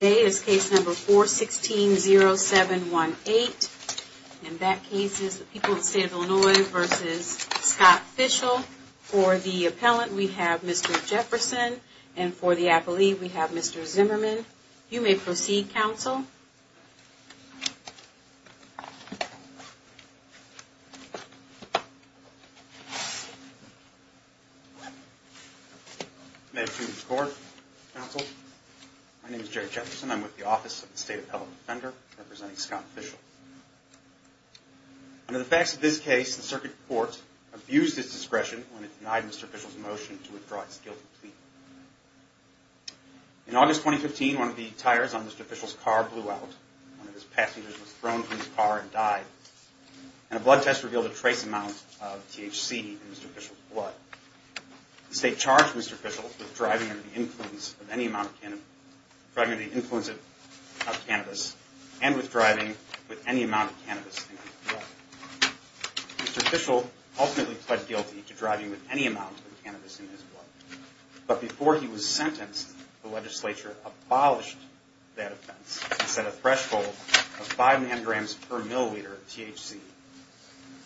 Today is case number 4160718, and that case is the people of the state of Illinois v. Scott Fishel. For the appellant, we have Mr. Jefferson, and for the appellee, we have Mr. Zimmerman. May it please the court, counsel. My name is Jerry Jefferson. I'm with the office of the state appellant defender representing Scott Fishel. Under the facts of this case, the circuit court abused its discretion when it denied Mr. Fishel's motion to withdraw its guilty plea. In August 2015, one of the tires on Mr. Fishel's car blew out. One of his passengers was thrown from his car and died. And a blood test revealed a trace amount of THC in Mr. Fishel's blood. The state charged Mr. Fishel with driving under the influence of cannabis and with driving with any amount of cannabis in his blood. Mr. Fishel ultimately pled guilty to driving with any amount of cannabis in his blood. But before he was sentenced, the legislature abolished that offense and set a threshold of five nanograms per milliliter of THC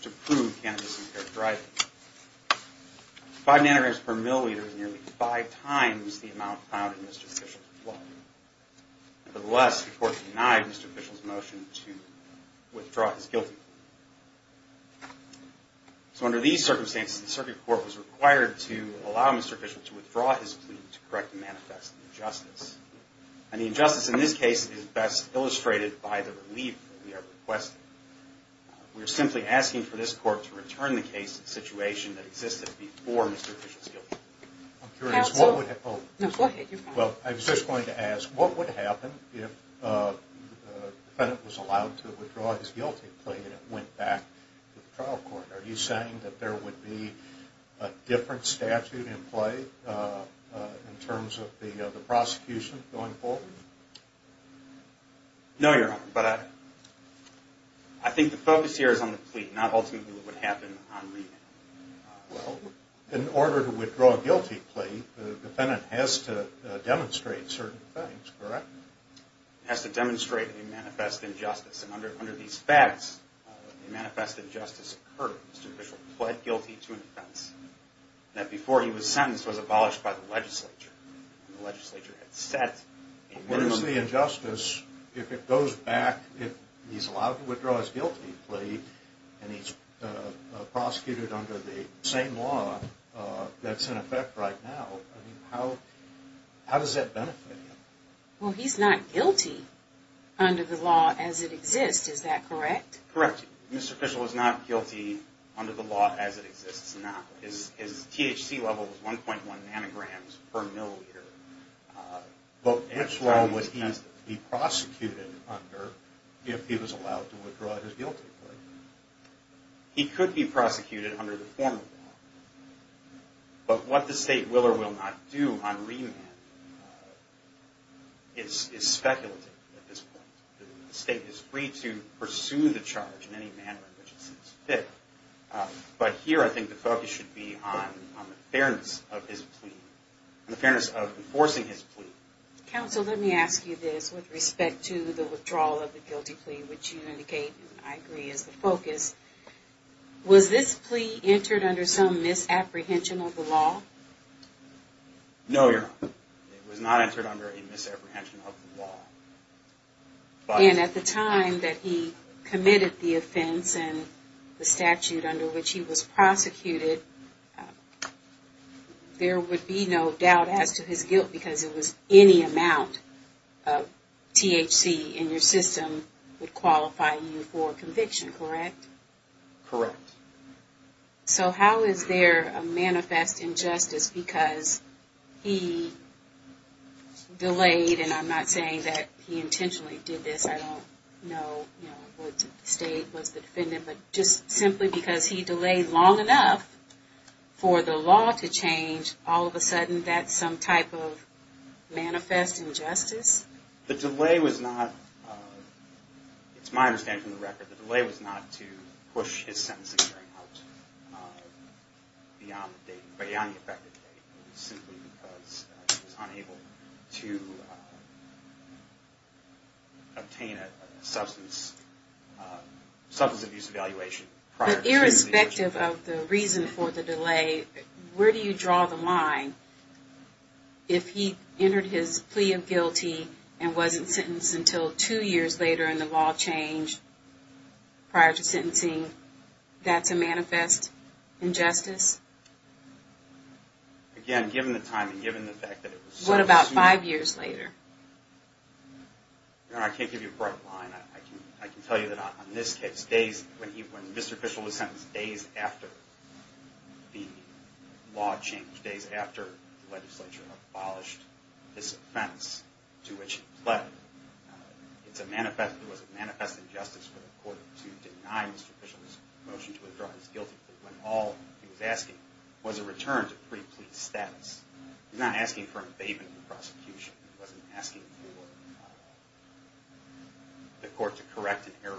to prove cannabis impaired driving. Five nanograms per milliliter is nearly five times the amount found in Mr. Fishel's blood. Nevertheless, the court denied Mr. Fishel's motion to withdraw his guilty plea. So under these circumstances, the circuit court was required to allow Mr. Fishel to withdraw his plea to correct the manifest injustice. And the injustice in this case is best illustrated by the relief that we are requesting. We are simply asking for this court to return the case to the situation that existed before Mr. Fishel's guilty plea. Well, I was just going to ask, what would happen if the defendant was allowed to withdraw his guilty plea and it went back to the trial court? Are you saying that there would be a different statute in play in terms of the prosecution going forward? No, Your Honor, but I think the focus here is on the plea, not ultimately what would happen on reading. Well, in order to withdraw a guilty plea, the defendant has to demonstrate certain things, correct? He has to demonstrate a manifest injustice. And under these facts, a manifest injustice occurred. Mr. Fishel pled guilty to an offense that before he was sentenced was abolished by the legislature. And the legislature had set a minimum... Mr. Fishel is not guilty under the same law that's in effect right now. How does that benefit him? Well, he's not guilty under the law as it exists, is that correct? Correct. Mr. Fishel is not guilty under the law as it exists now. His THC level is 1.1 nanograms per milliliter. But which law would he be prosecuted under if he was allowed to withdraw his guilty plea? He could be prosecuted under the former law. But what the state will or will not do on remand is speculative at this point. The state is free to pursue the charge in any manner in which it sees fit. But here I think the focus should be on the fairness of his plea, on the fairness of enforcing his plea. Counsel, let me ask you this with respect to the withdrawal of the guilty plea, which you indicate I agree is the focus. Was this plea entered under some misapprehension of the law? No, Your Honor. It was not entered under a misapprehension of the law. And at the time that he committed the offense and the statute under which he was prosecuted, there would be no doubt as to his guilt because it was any amount of THC in your system would qualify you for conviction, correct? Correct. So how is there a manifest injustice because he delayed, and I'm not saying that he intentionally did this, I don't know what state was the defendant, but just simply because he delayed long enough for the law to change, all of a sudden that's some type of manifest injustice? The delay was not, it's my understanding from the record, the delay was not to push his sentencing out beyond the effective date. It was simply because he was unable to obtain a substance abuse evaluation prior to the execution. But irrespective of the reason for the delay, where do you draw the line if he entered his plea of guilty and wasn't sentenced until two years later and the law changed prior to sentencing, that's a manifest injustice? Again, given the time and given the fact that it was so soon... What about five years later? I can't give you a bright line. I can tell you that on this case, when Mr. Fishel was sentenced days after the law changed, days after the legislature abolished this offense to which he pled, it was a manifest injustice for the court to deny Mr. Fishel's motion to withdraw his guilty plea when all he was asking was a return to pre-plea status. He was not asking for an abatement in prosecution. He wasn't asking for the court to correct an error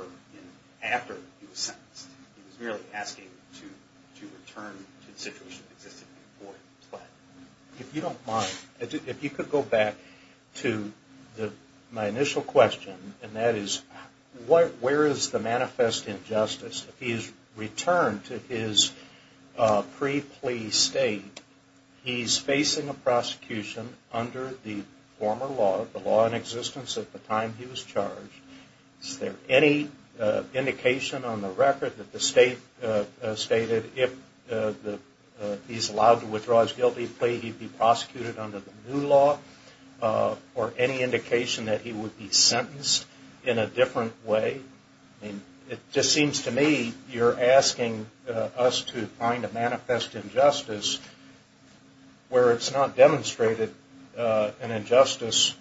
after he was sentenced. He was merely asking to return to the situation that existed before he pled. If you don't mind, if you could go back to my initial question, and that is, where is the manifest injustice if he's returned to his pre-plea state? He's facing a prosecution under the former law, the law in existence at the time he was charged. Is there any indication on the record that the state stated if he's allowed to withdraw his guilty plea, he'd be prosecuted under the new law? Or any indication that he would be sentenced in a different way? It just seems to me you're asking us to find a manifest injustice where it's not demonstrated an injustice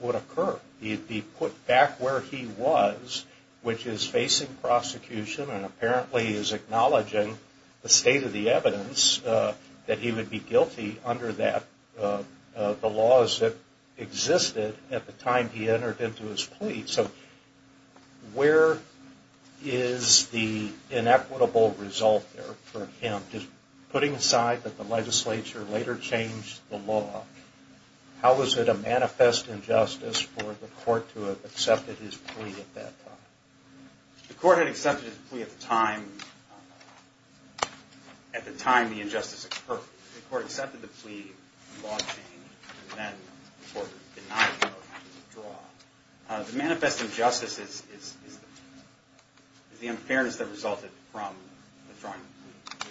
would occur. He'd be put back where he was, which is facing prosecution, and apparently he's acknowledging the state of the evidence that he would be guilty under the laws that existed at the time he entered into his plea. So where is the inequitable result there for him? Just putting aside that the legislature later changed the law, how is it a manifest injustice for the court to have accepted his plea at that time? The court had accepted his plea at the time the injustice occurred. The court accepted the plea, the law changed, and then the court did not go to withdraw. The manifest injustice is the unfairness that resulted from withdrawing the plea.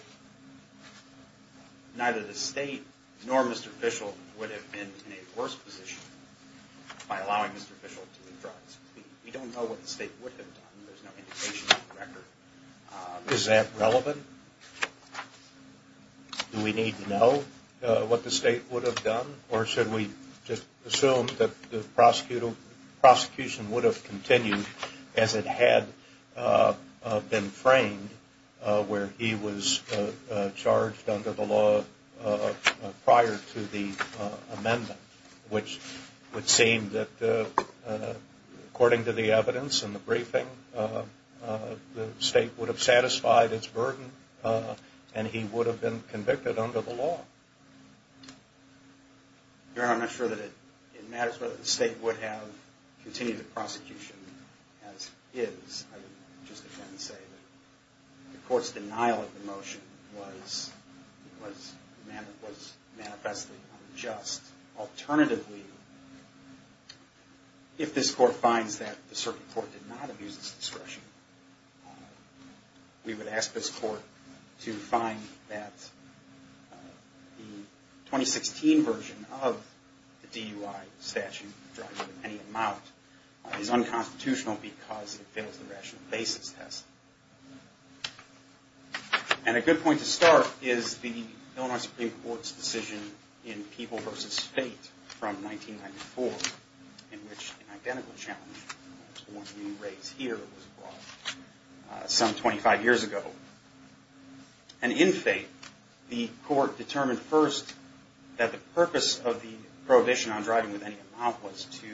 Neither the state nor Mr. Fishel would have been in a worse position by allowing Mr. Fishel to withdraw his plea. We don't know what the state would have done. There's no indication on the record. Is that relevant? Do we need to know what the state would have done? Or should we just assume that the prosecution would have continued as it had been framed, where he was charged under the law prior to the amendment, which would seem that according to the evidence in the briefing, the state would have satisfied its burden and he would have been convicted under the law. Your Honor, I'm not sure that it matters whether the state would have continued the prosecution as is. I would just again say that the court's denial of the motion was manifestly unjust. Alternatively, if this court finds that the circuit court did not abuse its discretion, we would ask this court to find that the 2016 version of the DUI statute, which drives it to any amount, is unconstitutional because it fails the rational basis test. And a good point to start is the Illinois Supreme Court's decision in People v. Fate from 1994, in which an identical challenge was brought some 25 years ago. And in Fate, the court determined first that the purpose of the prohibition on driving with any amount was to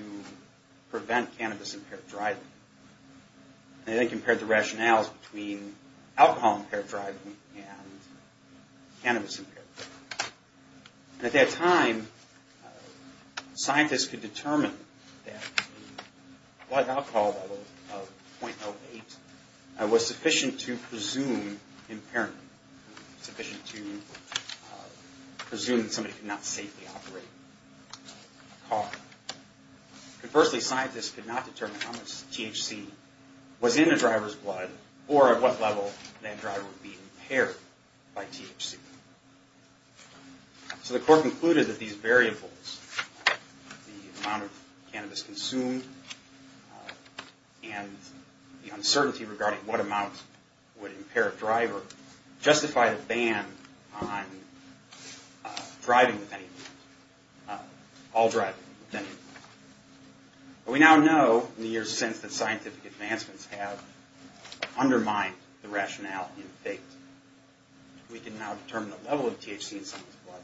prevent cannabis-impaired driving. They then compared the rationales between alcohol-impaired driving and cannabis-impaired driving. At that time, scientists could determine that the blood alcohol level of 0.08 was sufficient to presume impairment, sufficient to presume that somebody could not safely operate a car. Conversely, scientists could not determine how much THC was in the driver's blood or at what level that driver would be impaired by THC. So the court concluded that these variables, the amount of cannabis consumed and the uncertainty regarding what amount would impair a driver, justify the ban on driving with any amount, all driving with any amount. We now know, in the years since, that scientific advancements have undermined the rationale in Fate. We can now determine the level of THC in someone's blood.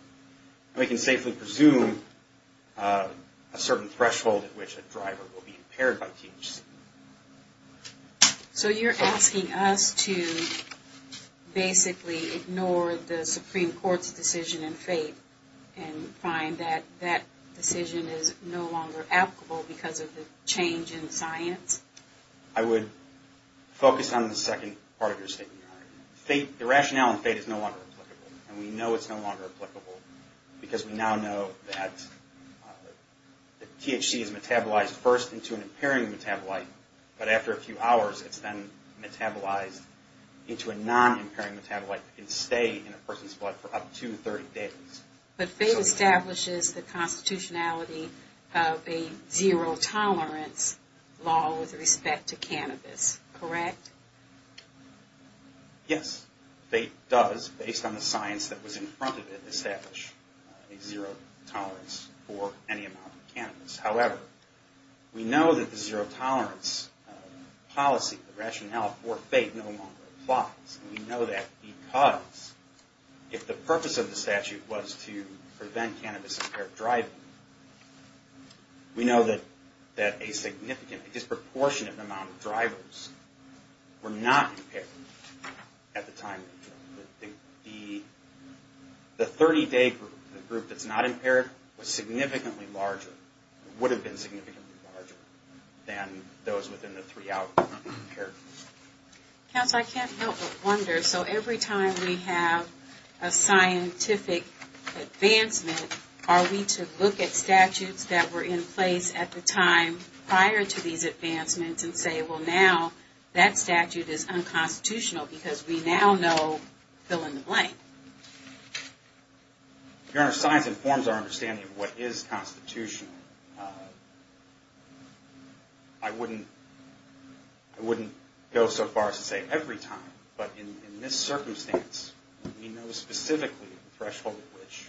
And we can safely presume a certain threshold at which a driver will be impaired by THC. So you're asking us to basically ignore the Supreme Court's decision in Fate and find that that decision is no longer applicable because of the change in science? I would focus on the second part of your statement. The rationale in Fate is no longer applicable, and we know it's no longer applicable because we now know that THC is metabolized first into an impairing metabolite, but after a few hours it's then metabolized into a non-impairing metabolite that can stay in a person's blood for up to 30 days. But Fate establishes the constitutionality of a zero-tolerance law with respect to cannabis, correct? Yes, Fate does, based on the science that was in front of it, establish a zero-tolerance for any amount of cannabis. However, we know that the zero-tolerance policy, the rationale for Fate, no longer applies. We know that because if the purpose of the statute was to prevent cannabis-impaired driving, we know that a significant, disproportionate amount of drivers were not impaired at the time. The 30-day group, the group that's not impaired, was significantly larger, would have been significantly larger than those within the three-hour period. Counsel, I can't help but wonder, so every time we have a scientific advancement, are we to look at statutes that were in place at the time prior to these advancements and say, well, now that statute is unconstitutional because we now know fill in the blank? Your Honor, science informs our understanding of what is constitutional. I wouldn't go so far as to say every time, but in this circumstance, we know specifically the threshold at which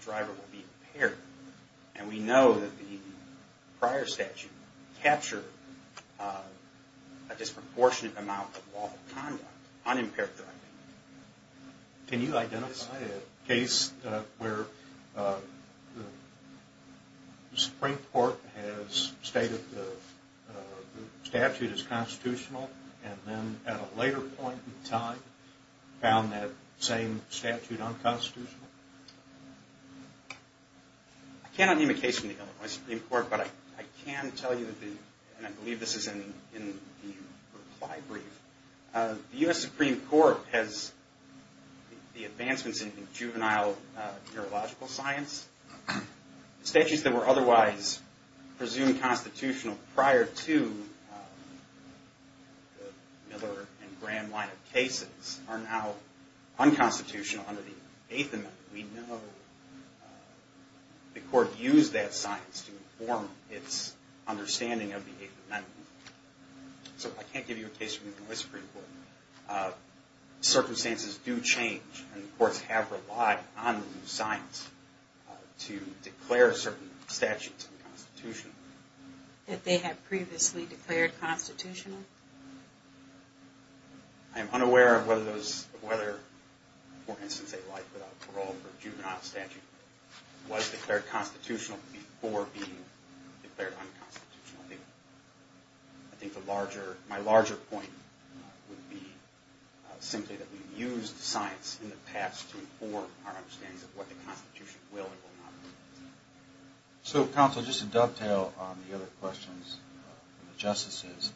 a driver will be impaired. And we know that the prior statute captured a disproportionate amount of lawful conduct, unimpaired driving. Can you identify a case where the Supreme Court has stated the statute is constitutional and then at a later point in time found that same statute unconstitutional? I cannot name a case from the Illinois Supreme Court, but I can tell you, and I believe this is in the reply brief, the U.S. Supreme Court has the advancements in juvenile neurological science. Statutes that were otherwise presumed constitutional prior to the Miller and Graham line of cases are now unconstitutional under the Eighth Amendment. We know the Court used that science to inform its understanding of the Eighth Amendment. So I can't give you a case from the Illinois Supreme Court. Circumstances do change, and the courts have relied on the new science to declare certain statutes unconstitutional. That they had previously declared constitutional? I am unaware of whether, for instance, a life without parole for a juvenile statute was declared constitutional before being declared unconstitutional. I think my larger point would be simply that we've used science in the past to inform our understanding of what the Constitution will and will not be. So Counsel, just to dovetail on the other questions from the Justices,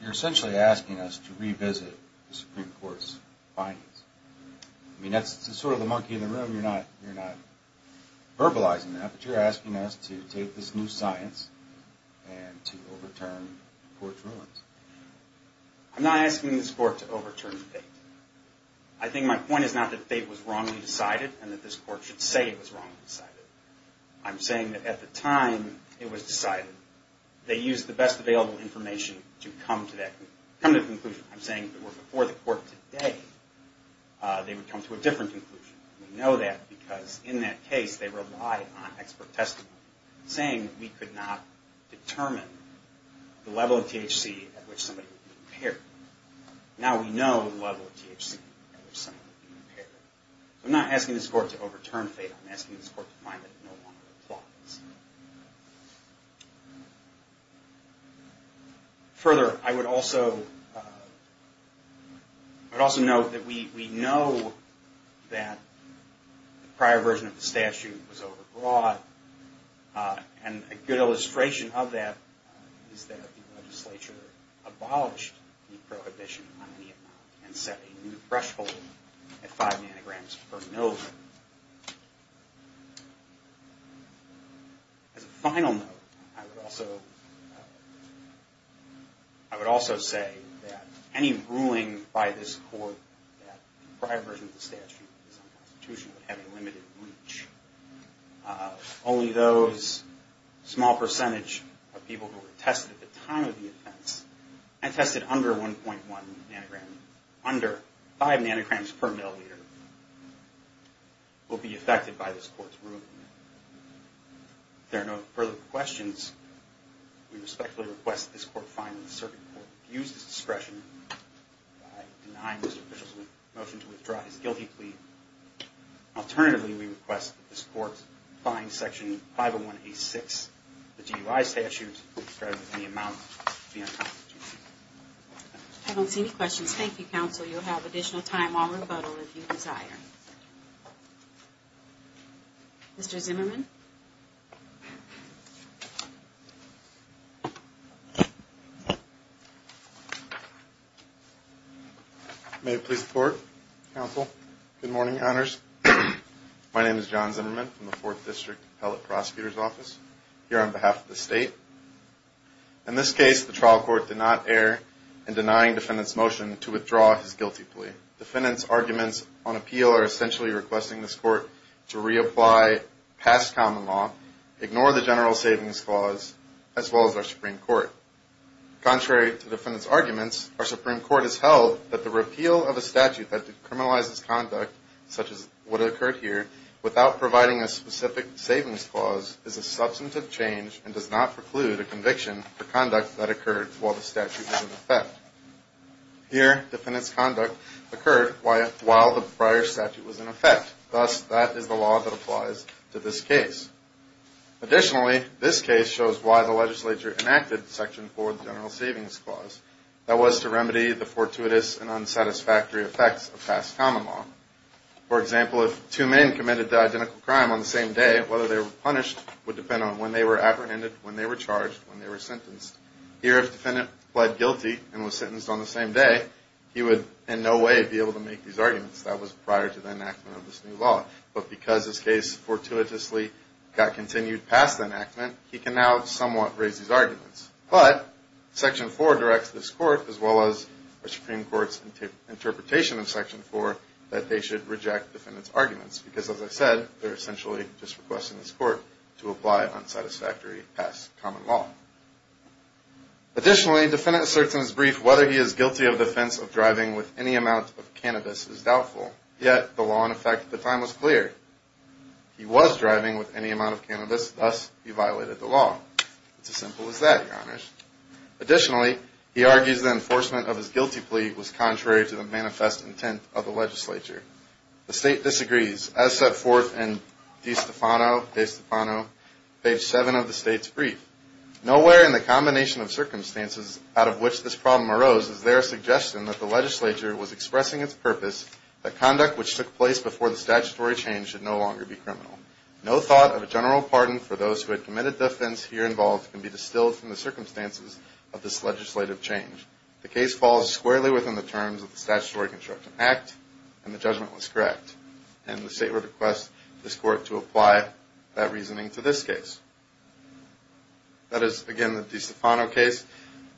you're essentially asking us to revisit the Supreme Court's findings. I mean, that's sort of the monkey in the room, you're not verbalizing that, but you're asking us to take this new science and to overturn Court's rulings. I'm not asking this Court to overturn fate. I think my point is not that fate was wrongly decided and that this Court should say it was wrongly decided. I'm saying that at the time it was decided, they used the best available information to come to that conclusion. I'm saying that if it were before the Court today, they would come to a different conclusion. We know that because in that case, they relied on expert testimony, saying we could not determine the level of THC at which somebody would be impaired. Now we know the level of THC at which somebody would be impaired. I'm not asking this Court to overturn fate. I'm asking this Court to find that no longer applies. Further, I would also note that we know that the prior version of the statute was over-broad, and a good illustration of that is that the legislature abolished the prohibition on ENOP and set a new threshold at five nanograms per milgram. As a final note, I would also say that any ruling by this Court that the prior version of the statute is unconstitutional would have a limited reach. Only those small percentage of people who were tested at the time of the offense and tested under 1.1 nanograms, under five nanograms per milliliter, will be affected by this Court's ruling. If there are no further questions, we respectfully request that this Court find that the circuit court abused its discretion by denying Mr. Fischel's motion to withdraw his guilty plea. Alternatively, we request that this Court find Section 501A6 of the DUI statute as described in the amount at the end. I don't see any questions. Thank you, Counsel. You'll have additional time while we rebuttal if you desire. Mr. Zimmerman? May it please the Court, Counsel, good morning, Honors. My name is John Zimmerman from the Fourth District Appellate Prosecutor's Office. I'm here on behalf of the State. In this case, the trial court did not err in denying defendant's motion to withdraw his guilty plea. Defendant's arguments on appeal are essentially requesting this Court to reapply past common law, ignore the general savings clause, as well as our Supreme Court. Contrary to defendant's arguments, our Supreme Court has held that the repeal of a statute that decriminalizes such as what occurred here without providing a specific savings clause is a substantive change and does not preclude a conviction for conduct that occurred while the statute was in effect. Here, defendant's conduct occurred while the prior statute was in effect. Thus, that is the law that applies to this case. Additionally, this case shows why the legislature enacted Section 4 of the general savings clause. That was to remedy the fortuitous and unsatisfactory effects of past common law. For example, if two men committed the identical crime on the same day, whether they were punished would depend on when they were apprehended, when they were charged, when they were sentenced. Here, if defendant pled guilty and was sentenced on the same day, he would in no way be able to make these arguments. That was prior to the enactment of this new law. But because this case fortuitously got continued past the enactment, he can now somewhat raise these arguments. But Section 4 directs this court, as well as the Supreme Court's interpretation in Section 4, that they should reject defendant's arguments because, as I said, they're essentially just requesting this court to apply unsatisfactory past common law. Additionally, defendant asserts in his brief whether he is guilty of the offense of driving with any amount of cannabis is doubtful. Yet, the law in effect at the time was clear. He was driving with any amount of cannabis. Thus, he violated the law. It's as simple as that, Your Honor. Additionally, he argues the enforcement of his guilty plea was contrary to the manifest intent of the legislature. The State disagrees, as set forth in De Stefano, page 7 of the State's brief. Nowhere in the combination of circumstances out of which this problem arose is there a suggestion that the legislature was expressing its purpose that conduct which took place before the statutory change should no longer be criminal. No thought of a general pardon for those who had committed the offense here involved can be distilled from the circumstances of this legislative change. The case falls squarely within the terms of the Statutory Construction Act, and the judgment was correct. And the State requests this court to apply that reasoning to this case. That is, again, the De Stefano case.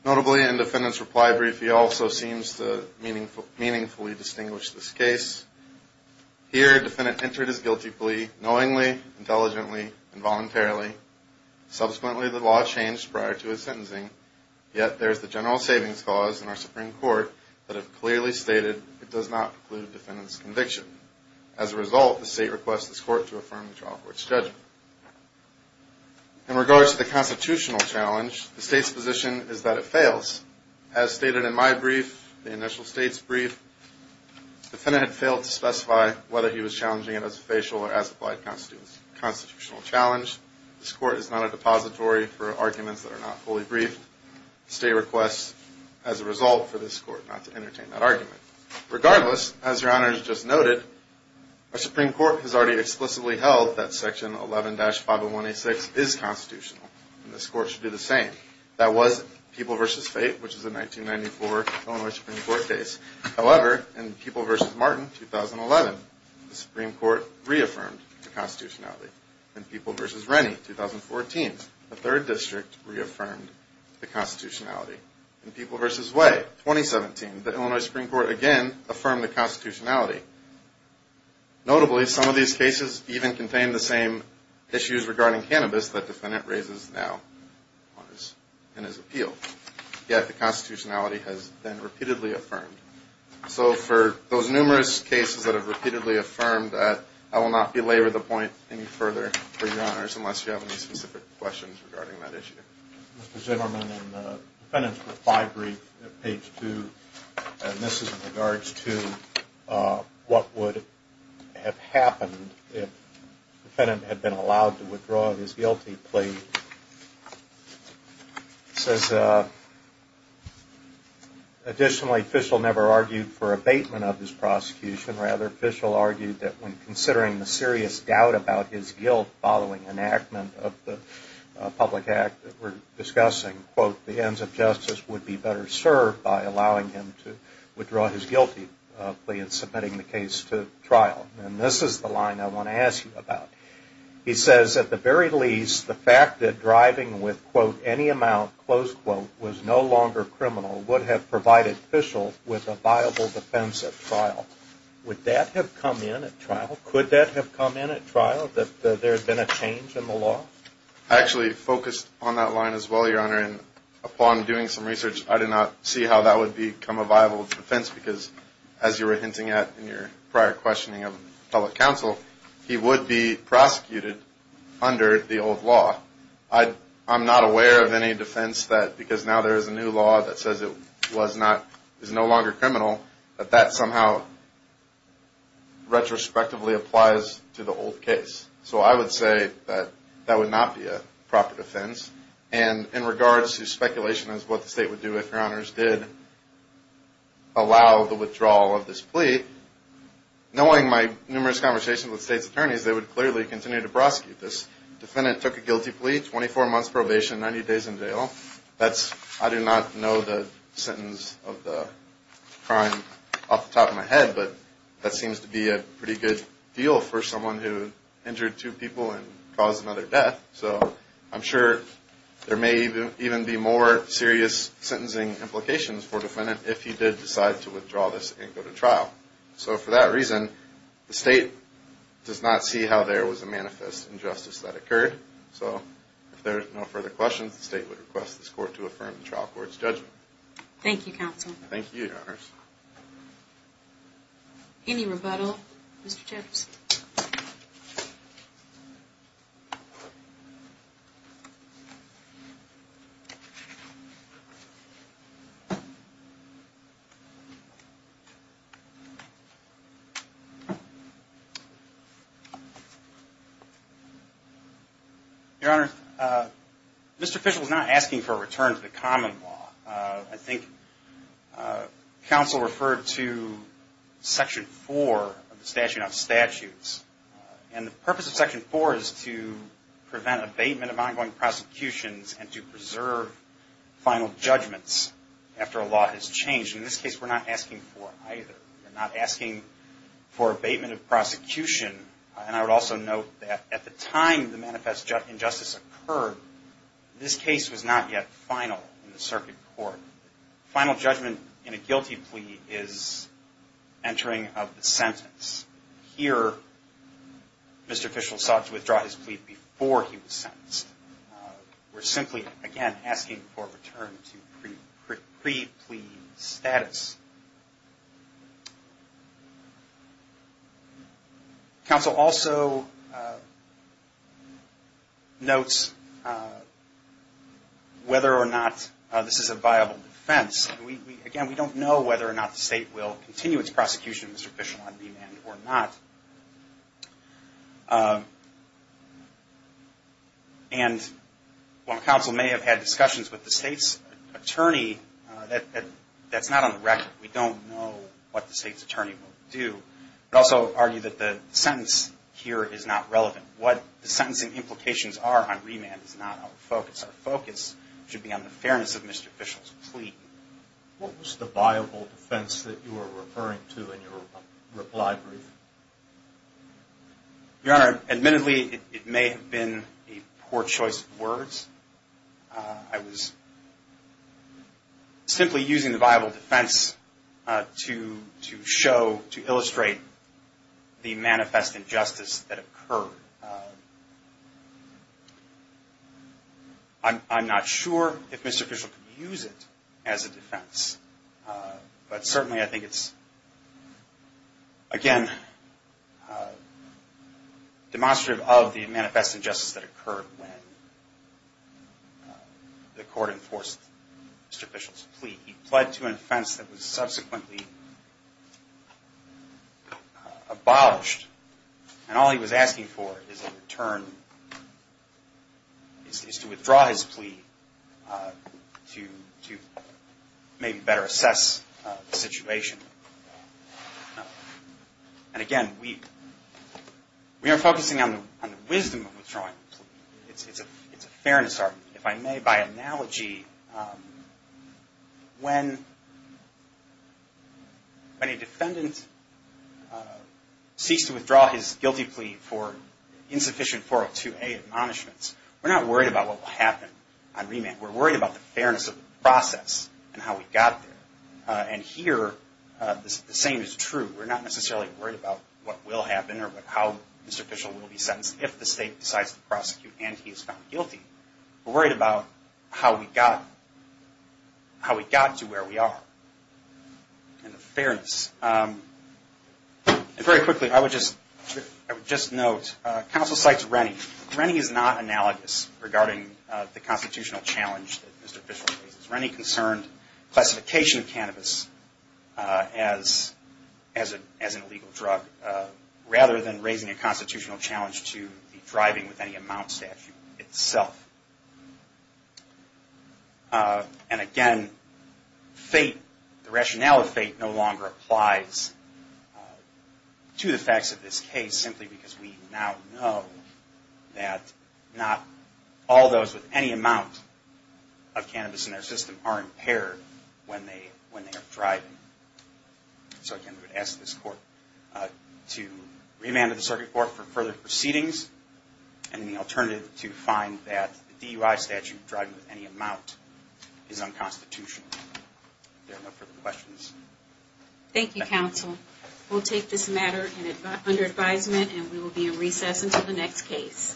Notably, in defendant's reply brief, he also seems to meaningfully distinguish this case. Here, defendant entered his guilty plea knowingly, intelligently, and voluntarily. Subsequently, the law changed prior to his sentencing. Yet, there is the general savings clause in our Supreme Court that have clearly stated it does not preclude defendant's conviction. As a result, the State requests this court to affirm the trial court's judgment. In regards to the constitutional challenge, the State's position is that it fails. As stated in my brief, the initial State's brief, defendant had failed to specify whether he was challenging it as a facial or as applied constitutional challenge. This court is not a depository for arguments that are not fully briefed. The State requests, as a result, for this court not to entertain that argument. Regardless, as Your Honor has just noted, our Supreme Court has already explicitly held that Section 11-50186 is constitutional, and this court should do the same. That was People v. Fate, which is a 1994 Illinois Supreme Court case. However, in People v. Martin, 2011, the Supreme Court reaffirmed the constitutionality. In People v. Rennie, 2014, the Third District reaffirmed the constitutionality. In People v. Way, 2017, the Illinois Supreme Court again affirmed the constitutionality. Notably, some of these cases even contain the same issues regarding cannabis that the defendant raises now in his appeal. Yet the constitutionality has been repeatedly affirmed. So for those numerous cases that have repeatedly affirmed that, I will not belabor the point any further for Your Honors, unless you have any specific questions regarding that issue. Mr. Zimmerman, the defendant's reply brief at page 2, and this is in regards to what would have happened if the defendant had been allowed to withdraw his guilty plea. It says, additionally, Fischel never argued for abatement of his prosecution. Rather, Fischel argued that when considering the serious doubt about his guilt following enactment of the public act that we're discussing, quote, the ends of justice would be better served by allowing him to withdraw his guilty plea and submitting the case to trial. And this is the line I want to ask you about. He says, at the very least, the fact that driving with, quote, any amount, close quote, was no longer criminal would have provided Fischel with a viable defense at trial. Would that have come in at trial? Could that have come in at trial, that there had been a change in the law? I actually focused on that line as well, Your Honor. And upon doing some research, I did not see how that would become a viable defense, because as you were hinting at in your prior questioning of public counsel, he would be prosecuted under the old law. I'm not aware of any defense that, because now there is a new law that says it was not, is no longer criminal, that that somehow retrospectively applies to the old case. So I would say that that would not be a proper defense. And in regards to speculation as to what the State would do if, Your Honors, did allow the withdrawal of this plea, knowing my numerous conversations with State's attorneys, they would clearly continue to prosecute this. The defendant took a guilty plea, 24 months probation, 90 days in jail. That's, I do not know the sentence of the crime off the top of my head, but that seems to be a pretty good deal for someone who injured two people and caused another death. So I'm sure there may even be more serious sentencing implications for the defendant if he did decide to withdraw this and go to trial. So for that reason, the State does not see how there was a manifest injustice that occurred. So if there are no further questions, the State would request this Court to affirm the trial court's judgment. Thank you, Counsel. Thank you, Your Honors. Any rebuttal, Mr. Gibbs? Your Honor, Mr. Fishel is not asking for a return to the common law. I think Counsel referred to Section 4 of the Statute of Statutes. And the purpose of Section 4 is to prevent abatement of ongoing prosecutions and to preserve final judgments after a law has changed. In this case, we're not asking for either. We're not asking for abatement of prosecution. And I would also note that at the time the manifest injustice occurred, this case was not yet final in the circuit court. Final judgment in a guilty plea is entering of the sentence. Here, Mr. Fishel sought to withdraw his plea before he was sentenced. We're simply, again, asking for a return to pre-plea status. Counsel also notes whether or not this is a viable defense. Again, we don't know whether or not the State will continue its prosecution of Mr. Fishel on demand or not. And while Counsel may have had discussions with the State's attorney, that's not on the record. We don't know what the State's attorney will do. We also argue that the sentence here is not relevant. What the sentencing implications are on remand is not our focus. Our focus should be on the fairness of Mr. Fishel's plea. What was the viable defense that you were referring to in your reply brief? Your Honor, admittedly, it may have been a poor choice of words. I was simply using the viable defense to show, to illustrate the manifest injustice that occurred. I'm not sure if Mr. Fishel could use it as a defense. But certainly I think it's, again, demonstrative of the manifest injustice that occurred when the Court enforced Mr. Fishel's plea. He pled to an offense that was subsequently abolished. And all he was asking for is a return, is to withdraw his plea to maybe better assess the situation. And again, we are focusing on the wisdom of withdrawing the plea. It's a fairness argument. If I may, by analogy, when a defendant seeks to withdraw his guilty plea for insufficient 402A admonishments, we're not worried about what will happen on remand. We're worried about the fairness of the process and how we got there. And here, the same is true. We're not necessarily worried about what will happen or how Mr. Fishel will be sentenced if the State decides to prosecute and he is found guilty. We're worried about how we got to where we are and the fairness. And very quickly, I would just note, counsel cites Rennie. Rennie is not analogous regarding the constitutional challenge that Mr. Fishel faces. Rennie concerned classification of cannabis as an illegal drug, rather than raising a constitutional challenge to the driving with any amount statute itself. And again, fate, the rationale of fate, no longer applies to the facts of this case, simply because we now know that not all those with any amount of cannabis in their system are impaired when they are driving. So again, we would ask this court to remand the circuit court for further proceedings and the alternative to find that DUI statute, driving with any amount, is unconstitutional. Thank you, counsel. We'll take this matter under advisement and we will be in recess until the next case.